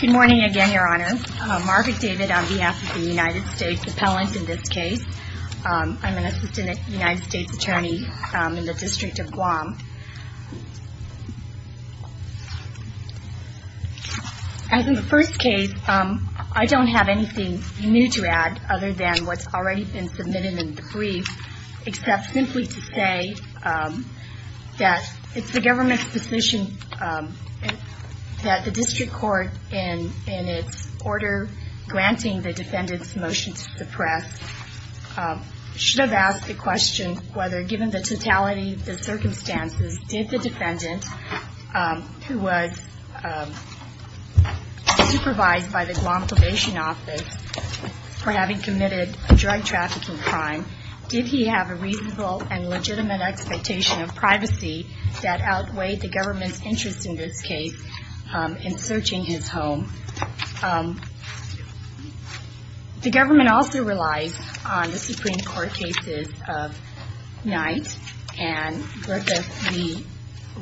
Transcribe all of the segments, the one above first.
Good morning again, Your Honor. I'm Margaret David on behalf of the United States Appellant in this case. I'm an Assistant United States Attorney in the District of Guam. As in the first case, I don't have anything new to add other than what's already been submitted in the brief, except simply to say that it's the government's position that the District Court, in its order granting the defendant's motion to suppress, should have asked the question whether, given the totality, the circumstances, the defendant's motion to suppress would be acceptable. In both cases, did the defendant, who was supervised by the Guam Probation Office for having committed a drug trafficking crime, did he have a reasonable and legitimate expectation of privacy that outweighed the government's interest in this case in searching his home? The government also relies on the Supreme Court cases of Knight and Griffith v.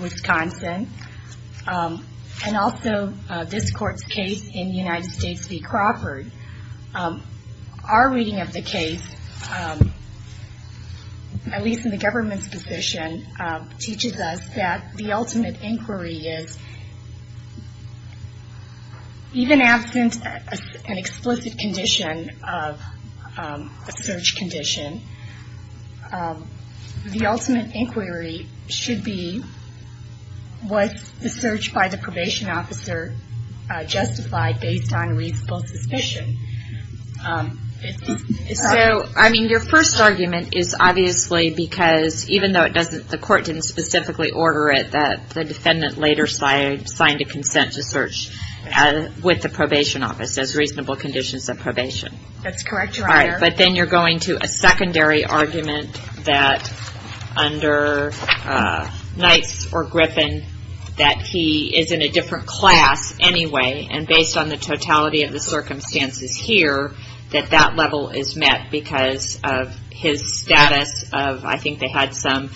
Wisconsin, and also this Court's case in United States v. Crawford. Our reading of the case, at least in the government's position, teaches us that the ultimate inquiry is, even absent an explicit condition of a search condition, the ultimate inquiry should be, was the search by the probation officer justified based on reasonable suspicion? Your first argument is obviously because, even though the court didn't specifically order it, the defendant later signed a consent to search with the probation office as reasonable conditions of probation. But then you're going to a secondary argument that under Knight or Griffith, that he is in a different class anyway, and based on the totality of the circumstances here, that that level is met because of his status of, I think they had some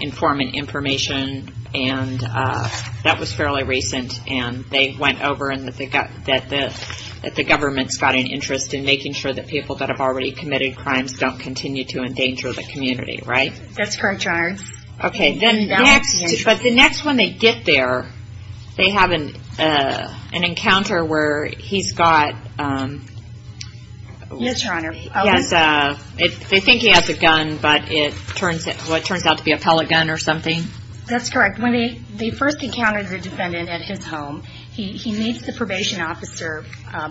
informant information, and that was fairly recent. And they went over and that the government's got an interest in making sure that people that have already committed crimes don't continue to endanger the community, right? That's correct, Your Honor. Okay. But the next, when they get there, they have an encounter where he's got... Yes, Your Honor. They think he has a gun, but it turns out to be a pellet gun or something? That's correct. When they first encounter the defendant at his home, he meets the probation officer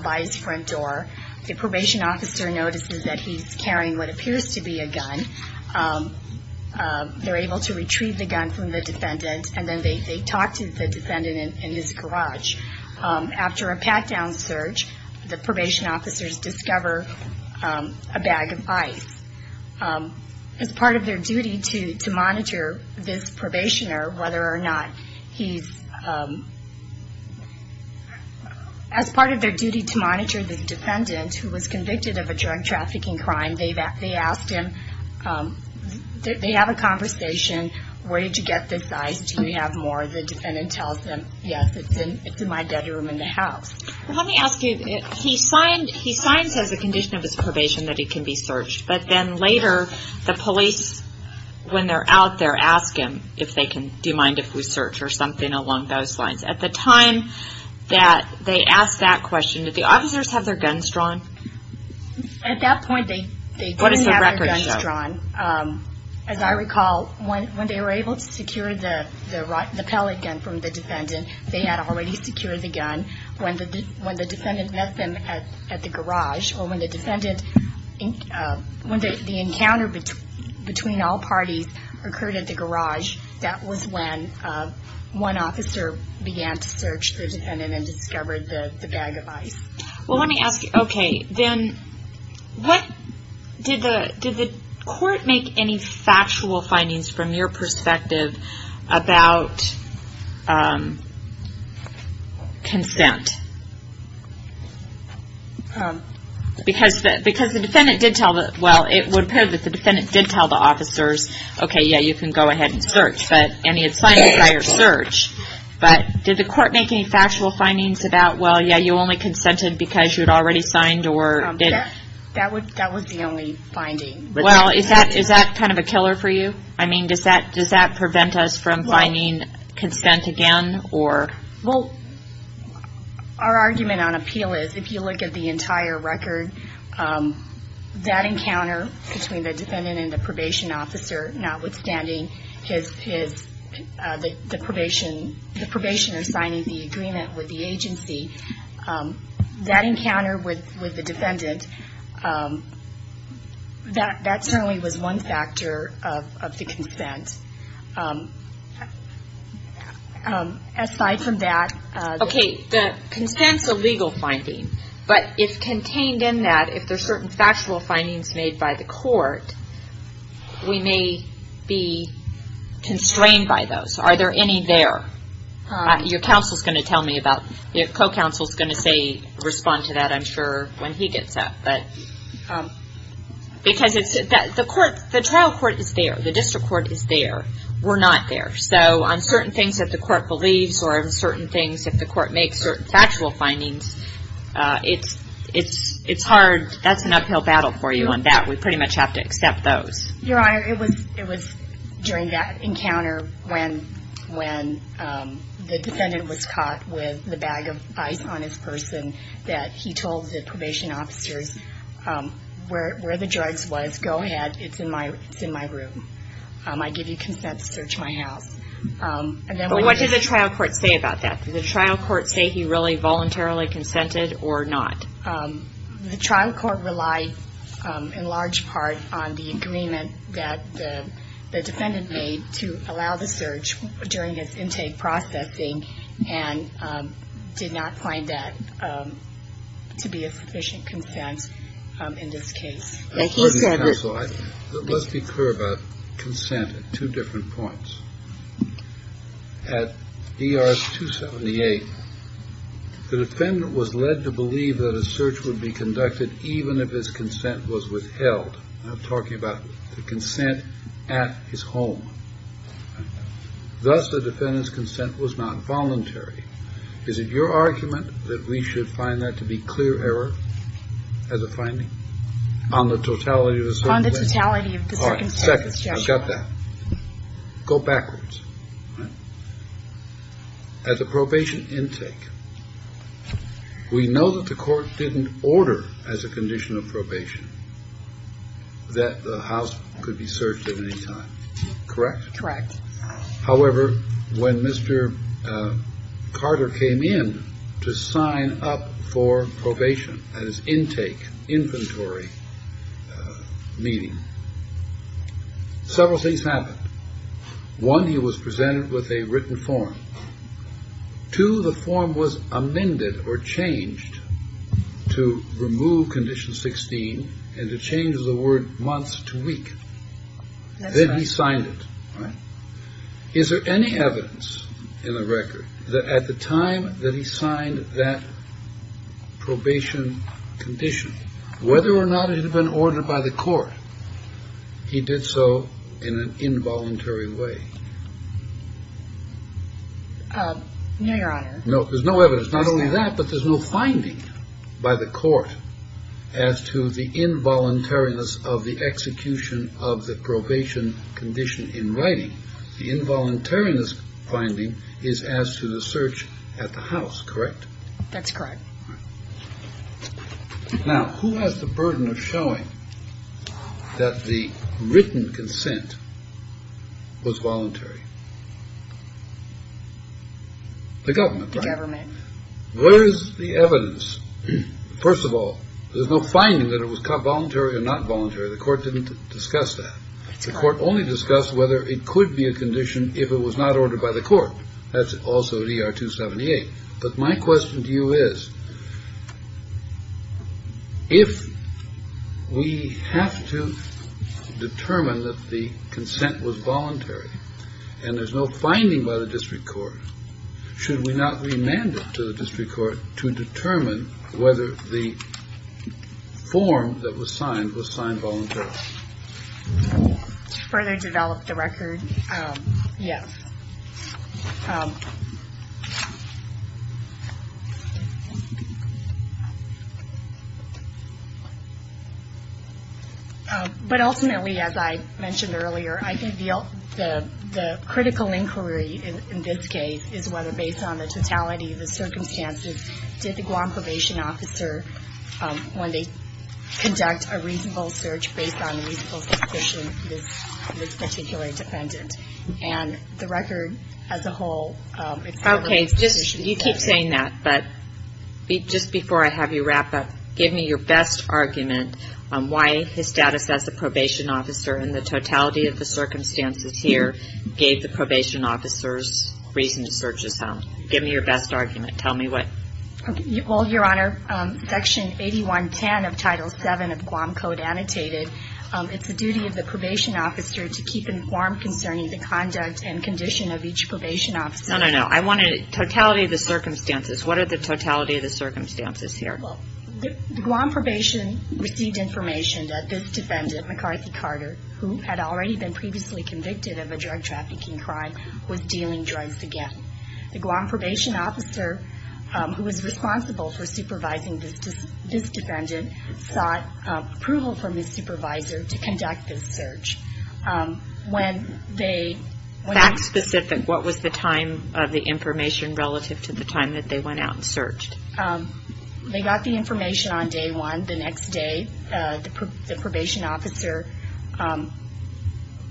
by his front door. The probation officer notices that he's carrying what appears to be a gun. They're able to retrieve the gun from the defendant, and then they talk to the defendant in his garage. After a pat-down search, the probation officers discover a bag of ice. As part of their duty to monitor this probationer, whether or not he's... As part of their duty to monitor the defendant, who was convicted of a drug trafficking crime, they asked him, they have a conversation, where did you get this ice? Do you have more? The defendant tells them, yes, it's in my bedroom in the house. Well, let me ask you, he signs as a condition of his probation that he can be searched, but then later the police, when they're out there, ask him if they can, do you mind if we search or something along those lines. At the time that they ask that question, did the officers have their guns drawn? At that point, they didn't have their guns drawn. As I recall, when they were able to secure the pellet gun from the defendant, they had already secured the gun. When the defendant met them at the garage, or when the encounter between all parties occurred at the garage, that was when one officer began to search the defendant and discovered the bag of ice. Well, let me ask you, okay, then, did the court make any factual findings from your perspective about consent? Because the defendant did tell the officers, okay, yeah, you can go ahead and search, and he had signed a prior search, but did the court make any factual findings about, well, yeah, you only consented because you had already signed? That was the only finding. Well, is that kind of a killer for you? I mean, does that prevent us from finding consent again? Well, our argument on appeal is, if you look at the entire record, that encounter between the defendant and the probation officer, notwithstanding the probationer signing the agreement with the agency, that encounter with the defendant, that certainly was one factor of the consent. Aside from that. Okay, the consent's a legal finding, but if contained in that, if there's certain factual findings made by the court, we may be constrained by those. Are there any there? Your counsel's going to tell me about it. Your co-counsel's going to say, respond to that, I'm sure, when he gets up. Because the trial court is there. The district court is there. We're not there. So on certain things that the court believes, if the court makes certain factual findings, it's hard. That's an uphill battle for you on that. We pretty much have to accept those. Your Honor, it was during that encounter, when the defendant was caught with the bag of ice on his person, that he told the probation officers where the drugs was, go ahead, it's in my room. I give you consent to search my house. But what did the trial court say about that? Did the trial court say he really voluntarily consented or not? The trial court relied in large part on the agreement that the defendant made to allow the search during his intake processing and did not find that to be a sufficient consent in this case. Thank you, Senator. Let's be clear about consent at two different points. At ER 278, the defendant was led to believe that a search would be conducted even if his consent was withheld. I'm talking about the consent at his home. Thus, the defendant's consent was not voluntary. Is it your argument that we should find that to be clear error as a finding? On the totality of the second case. On the totality of the second case. All right, second. I've got that. Go backwards. At the probation intake, we know that the court didn't order as a condition of probation that the house could be searched at any time, correct? Correct. However, when Mr. Carter came in to sign up for probation at his intake, inventory meeting, several things happened. One, he was presented with a written form. Two, the form was amended or changed to remove condition 16 and to change the word months to week. Then he signed it. Is there any evidence in the record that at the time that he signed that probation condition, whether or not it had been ordered by the court, he did so in an involuntary way? No, Your Honor. No, there's no evidence. Not only that, but there's no finding by the court as to the involuntariness of the execution of the probation condition in writing. The involuntariness finding is as to the search at the house, correct? That's correct. Now, who has the burden of showing that the written consent was voluntary? The government. The government. Where is the evidence? First of all, there's no finding that it was voluntary or not voluntary. The court didn't discuss that. The court only discussed whether it could be a condition if it was not ordered by the court. That's also DR 278. But my question to you is, if we have to determine that the consent was voluntary and there's no finding by the district court, should we not remand it to the district court to determine whether the form that was signed was signed voluntarily? To further develop the record, yes. But ultimately, as I mentioned earlier, I think the critical inquiry in this case is whether, based on the totality of the circumstances, did the Guam probation officer, when they conduct a reasonable search based on the reasonable suspicion, it is particularly dependent. And the record as a whole, it's relevant to this issue. Okay, you keep saying that, but just before I have you wrap up, give me your best argument on why his status as a probation officer in the totality of the circumstances here gave the probation officers reason to search his home. Give me your best argument. Tell me what. Well, Your Honor, Section 8110 of Title VII of the Guam Code annotated, it's the duty of the probation officer to keep informed concerning the conduct and condition of each probation officer. No, no, no. I wanted totality of the circumstances. What are the totality of the circumstances here? Well, the Guam probation received information that this defendant, McCarthy Carter, who had already been previously convicted of a drug trafficking crime, was dealing drugs again. The Guam probation officer who was responsible for supervising this defendant sought approval from his supervisor to conduct this search. When they... Fact specific, what was the time of the information relative to the time that they went out and searched? They got the information on day one. The next day, the probation officer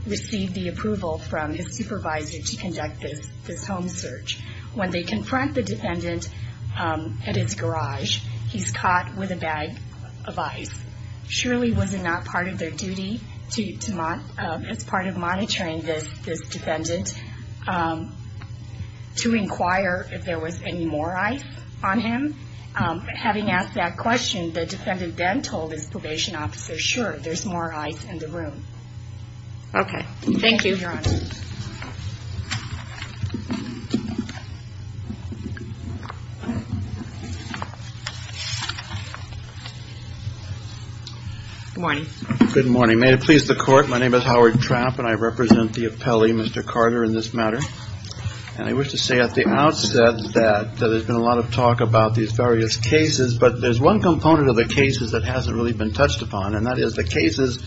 received the approval from his supervisor to conduct this home search. When they confront the defendant at his garage, he's caught with a bag of ice. Surely was it not part of their duty as part of monitoring this defendant to inquire if there was any more ice on him? Having asked that question, the defendant then told his probation officer, sure, there's more ice in the room. Okay. Thank you, Your Honor. Good morning. Good morning. May it please the Court, my name is Howard Trapp, and I represent the appellee, Mr. Carter, in this matter. And I wish to say at the outset that there's been a lot of talk about these various cases, but there's one component of the cases that hasn't really been touched upon, and that is the cases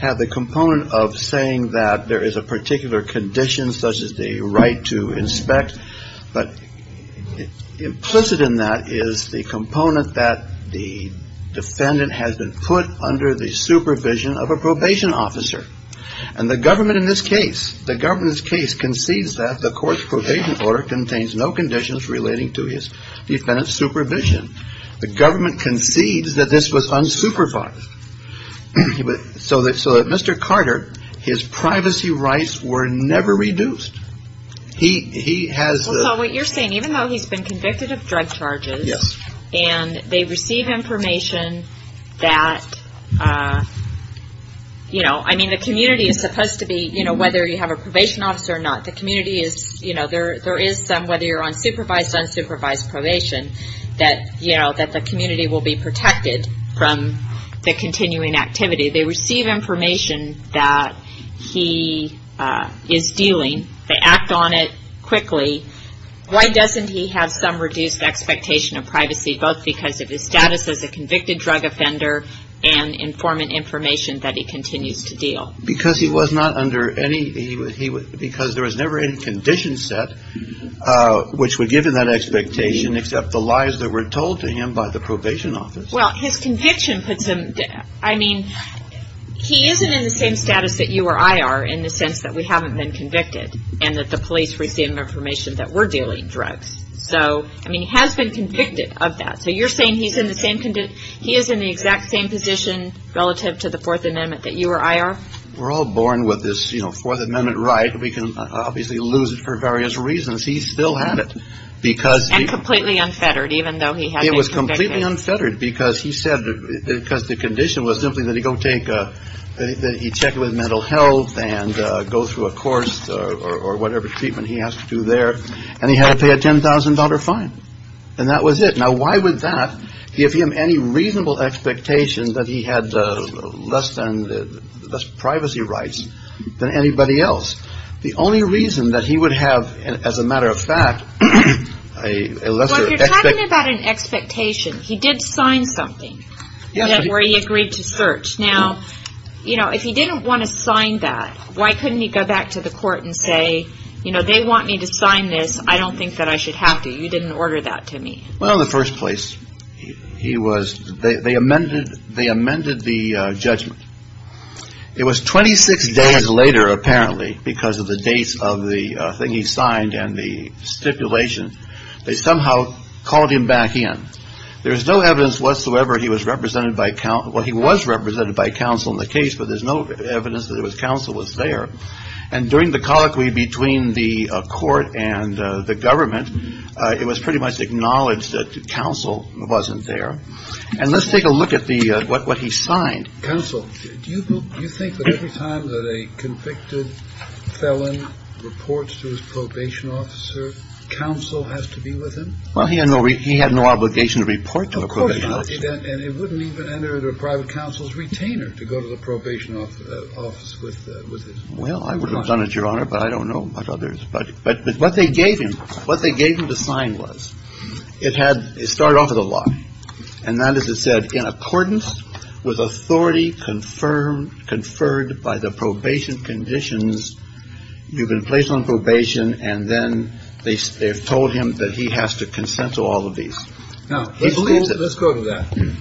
have the component of saying that there is a particular condition, such as the right to inspect, but implicit in that is the component that the defendant has been put under the supervision of a probation officer. And the government in this case, the government's case concedes that the court's probation order contains no conditions relating to his defendant's supervision. The government concedes that this was unsupervised. So that Mr. Carter, his privacy rights were never reduced. He has... What you're saying, even though he's been convicted of drug charges, and they receive information that, you know, I mean the community is supposed to be, you know, whether you have a probation officer or not, the community is, you know, there is some, whether you're on supervised or unsupervised probation, that, you know, that the community will be protected from the continuing activity. They receive information that he is dealing. They act on it quickly. Why doesn't he have some reduced expectation of privacy, both because of his status as a convicted drug offender and informant information that he continues to deal? Because he was not under any... Because there was never any conditions set which would give him that expectation except the lies that were told to him by the probation office. Well, his conviction puts him... I mean, he isn't in the same status that you or I are in the sense that we haven't been convicted and that the police receive information that we're dealing drugs. So, I mean, he has been convicted of that. So you're saying he is in the exact same position relative to the Fourth Amendment that you or I are? We're all born with this, you know, Fourth Amendment right. We can obviously lose it for various reasons. He still had it because... And completely unfettered even though he had been convicted. It was completely unfettered because he said... because the condition was simply that he go take a... that he check with mental health and go through a course or whatever treatment he has to do there and he had to pay a $10,000 fine. And that was it. Now why would that give him any reasonable expectation that he had less privacy rights than anybody else? The only reason that he would have, as a matter of fact, a lesser expectation... Well, you're talking about an expectation. He did sign something where he agreed to search. Now, you know, if he didn't want to sign that, why couldn't he go back to the court and say, you know, they want me to sign this. I don't think that I should have to. You didn't order that to me. Well, in the first place, he was... They amended the judgment. It was 26 days later, apparently, because of the dates of the thing he signed and the stipulation. They somehow called him back in. There's no evidence whatsoever he was represented by counsel... Well, he was represented by counsel in the case, but there's no evidence that his counsel was there. And during the colloquy between the court and the government, it was pretty much acknowledged that counsel wasn't there. And let's take a look at what he signed. Counsel, do you think that every time that a convicted felon reports to his probation officer, counsel has to be with him? Well, he had no obligation to report to the probation officer. And it wouldn't even enter the private counsel's retainer to go to the probation office with him. Well, I would have done it, Your Honor, but I don't know about others. But what they gave him, what they gave him to sign was, it had started off with a lie. And that is, it said, in accordance with authority confirmed, conferred by the probation conditions, you've been placed on probation. And then they told him that he has to consent to all of these. Now, let's go to that.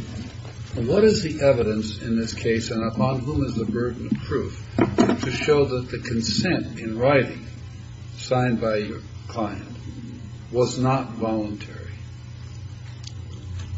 What is the evidence in this case, and upon whom is the burden of proof, to show that the consent in writing signed by your client was not voluntary?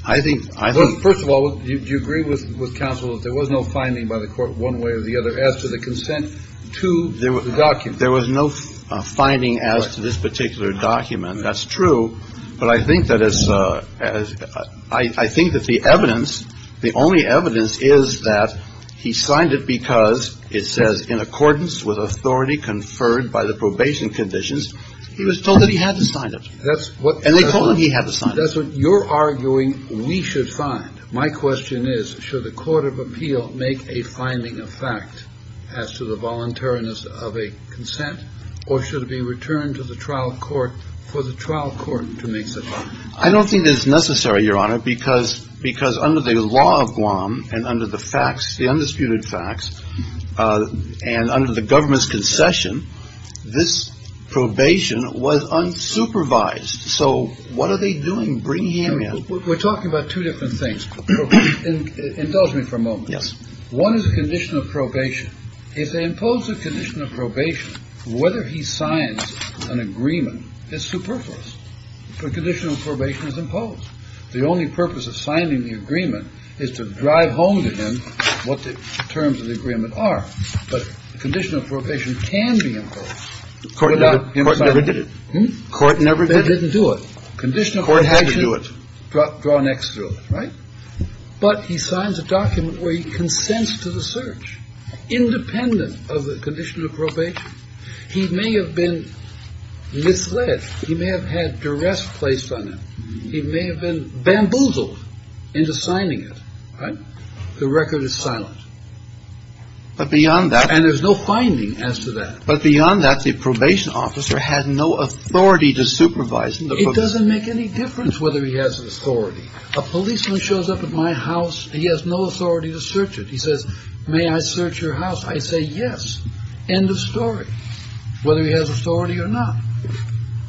I think — First of all, do you agree with counsel that there was no finding by the court one way or the other as to the consent to the document? There was no finding as to this particular document. That's true. But I think that as — I think that the evidence, the only evidence is that he signed it because, it says, in accordance with authority conferred by the probation conditions. He was told that he had to sign it. And they told him he had to sign it. That's what you're arguing we should find. My question is, should the court of appeal make a finding of fact as to the voluntariness of a consent, or should it be returned to the trial court for the trial court to make such a finding? I don't think it's necessary, Your Honor, because under the law of Guam and under the facts, the undisputed facts, and under the government's concession, this probation was unsupervised. So what are they doing bringing him in? We're talking about two different things. Indulge me for a moment. Yes. One is the condition of probation. If they impose a condition of probation, whether he signs an agreement is superfluous. The condition of probation is imposed. The only purpose of signing the agreement is to drive home to him what the terms of the agreement are. But the condition of probation can be imposed without him signing it. The court never did it. The court never did it. They didn't do it. The court had to do it. The condition of probation, draw an X to it. Right? But he signs a document where he consents to the search. Independent of the condition of probation, he may have been misled. He may have had duress placed on him. He may have been bamboozled into signing it. Right? The record is silent. But beyond that. And there's no finding as to that. But beyond that, the probation officer had no authority to supervise him. It doesn't make any difference whether he has authority. A policeman shows up at my house. He has no authority to search it. He says, may I search your house? I say, yes. End of story. Whether he has authority or not.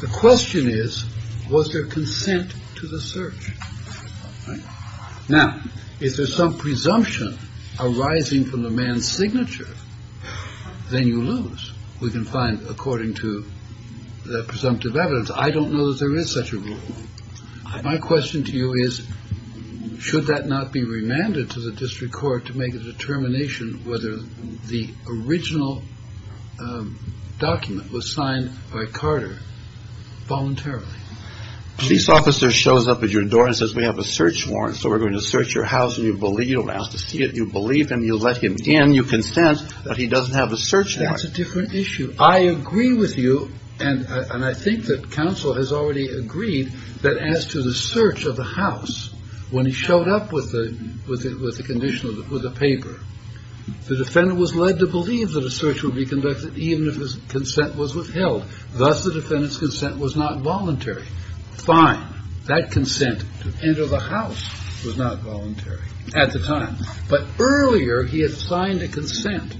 The question is, was there consent to the search? Now, if there's some presumption arising from the man's signature, then you lose. We can find according to the presumptive evidence. I don't know that there is such a rule. My question to you is, should that not be remanded to the district court to make a determination whether the original document was signed by Carter voluntarily? A police officer shows up at your door and says, we have a search warrant, so we're going to search your house and you believe him. You don't ask to see it. You believe him. You let him in. You consent. But he doesn't have a search warrant. That's a different issue. I agree with you. And I think that counsel has already agreed that as to the search of the house, when he showed up with the condition of the paper, the defendant was led to believe that a search would be conducted even if his consent was withheld. Thus, the defendant's consent was not voluntary. Fine. That consent to enter the house was not voluntary at the time. But earlier, he had signed a consent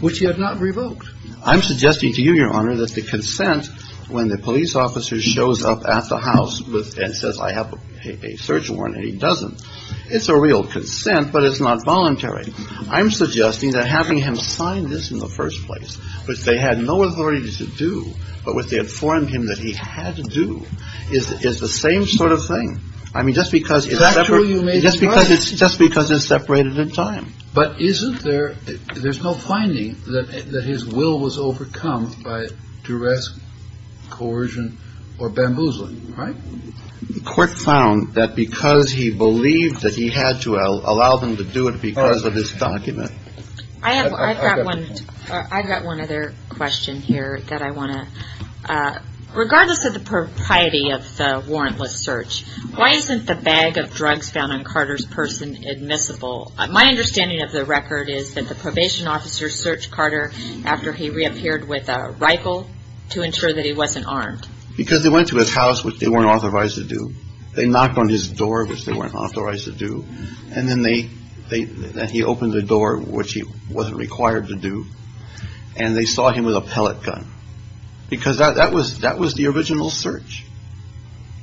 which he had not revoked. I'm suggesting to you, Your Honor, that the consent when the police officer shows up at the house and says, I have a search warrant, and he doesn't, it's a real consent, but it's not voluntary. I'm suggesting that having him sign this in the first place, which they had no authority to do, but which they informed him that he had to do, is the same sort of thing. I mean, just because it's separate. Is that true? Just because it's separated in time. But isn't there, there's no finding that his will was overcome by duress, coercion, or bamboozling, right? The court found that because he believed that he had to allow them to do it because of his document. I've got one other question here that I want to. Regardless of the propriety of the warrantless search, why isn't the bag of drugs found on Carter's person admissible? My understanding of the record is that the probation officer searched Carter after he reappeared with a rifle to ensure that he wasn't armed. Because they went to his house, which they weren't authorized to do. They knocked on his door, which they weren't authorized to do, and then he opened the door, which he wasn't required to do, and they saw him with a pellet gun. Because that was the original search,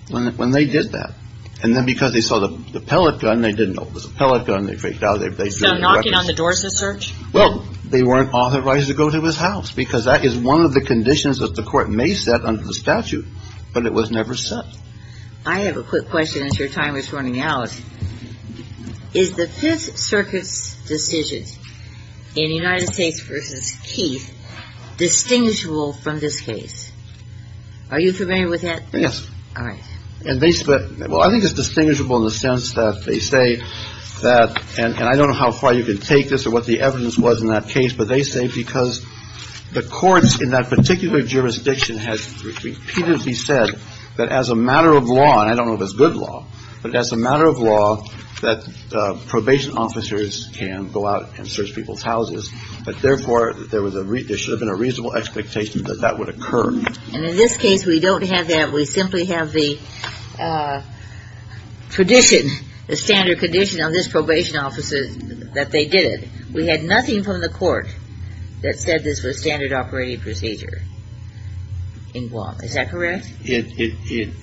when they did that. And then because they saw the pellet gun, they didn't know it was a pellet gun, they freaked out. So knocking on the door is a search? Well, they weren't authorized to go to his house, because that is one of the conditions that the court may set under the statute, but it was never set. I have a quick question as your time is running out. Is the Fifth Circuit's decision in United States v. Keith distinguishable from this case? Are you familiar with that? Yes. All right. Well, I think it's distinguishable in the sense that they say that, and I don't know how far you can take this or what the evidence was in that case, but they say because the courts in that particular jurisdiction has repeatedly said that as a matter of law, and I don't know if it's good law, but as a matter of law, that probation officers can go out and search people's houses, but therefore there should have been a reasonable expectation that that would occur. And in this case, we don't have that. We simply have the tradition, the standard condition on this probation officer that they did it. We had nothing from the court that said this was standard operating procedure in Guam. Is that correct? It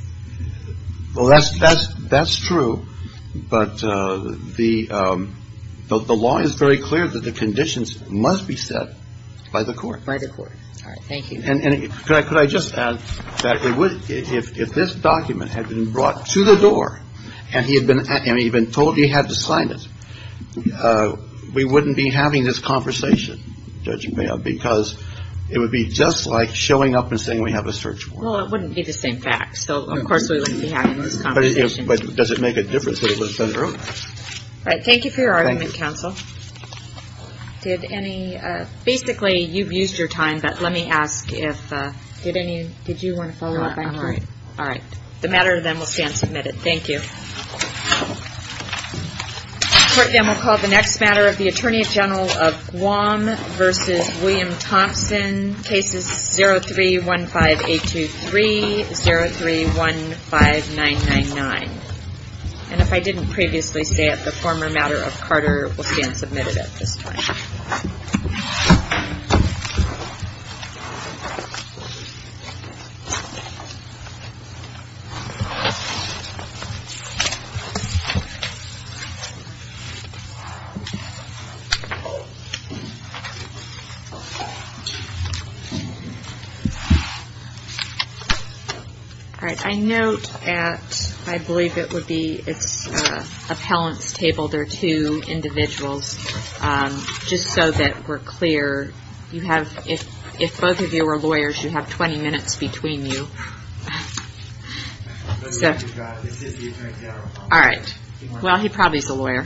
– well, that's true, but the law is very clear that the conditions must be set by the court. By the court. All right. Thank you. And could I just add that it would – if this document had been brought to the door and he had been told he had to sign it, we wouldn't be having this conversation, Judge Mayo, because it would be just like showing up and saying we have a search warrant. Well, it wouldn't be the same fact. So, of course, we wouldn't be having this conversation. But does it make a difference that it was done earlier? Thank you for your argument, counsel. Thank you. Basically, you've used your time, but let me ask if – did any – did you want to follow up? No, I'm all right. All right. The matter then will stand submitted. Thank you. Court then will call the next matter of the Attorney General of Guam v. William Thompson, cases 03-15823, 03-15999. And if I didn't previously say it, the former matter of Carter will stand submitted at this time. Thank you. All right. Just so that we're clear, you have – if both of you are lawyers, you have 20 minutes between you. All right. Well, he probably is a lawyer.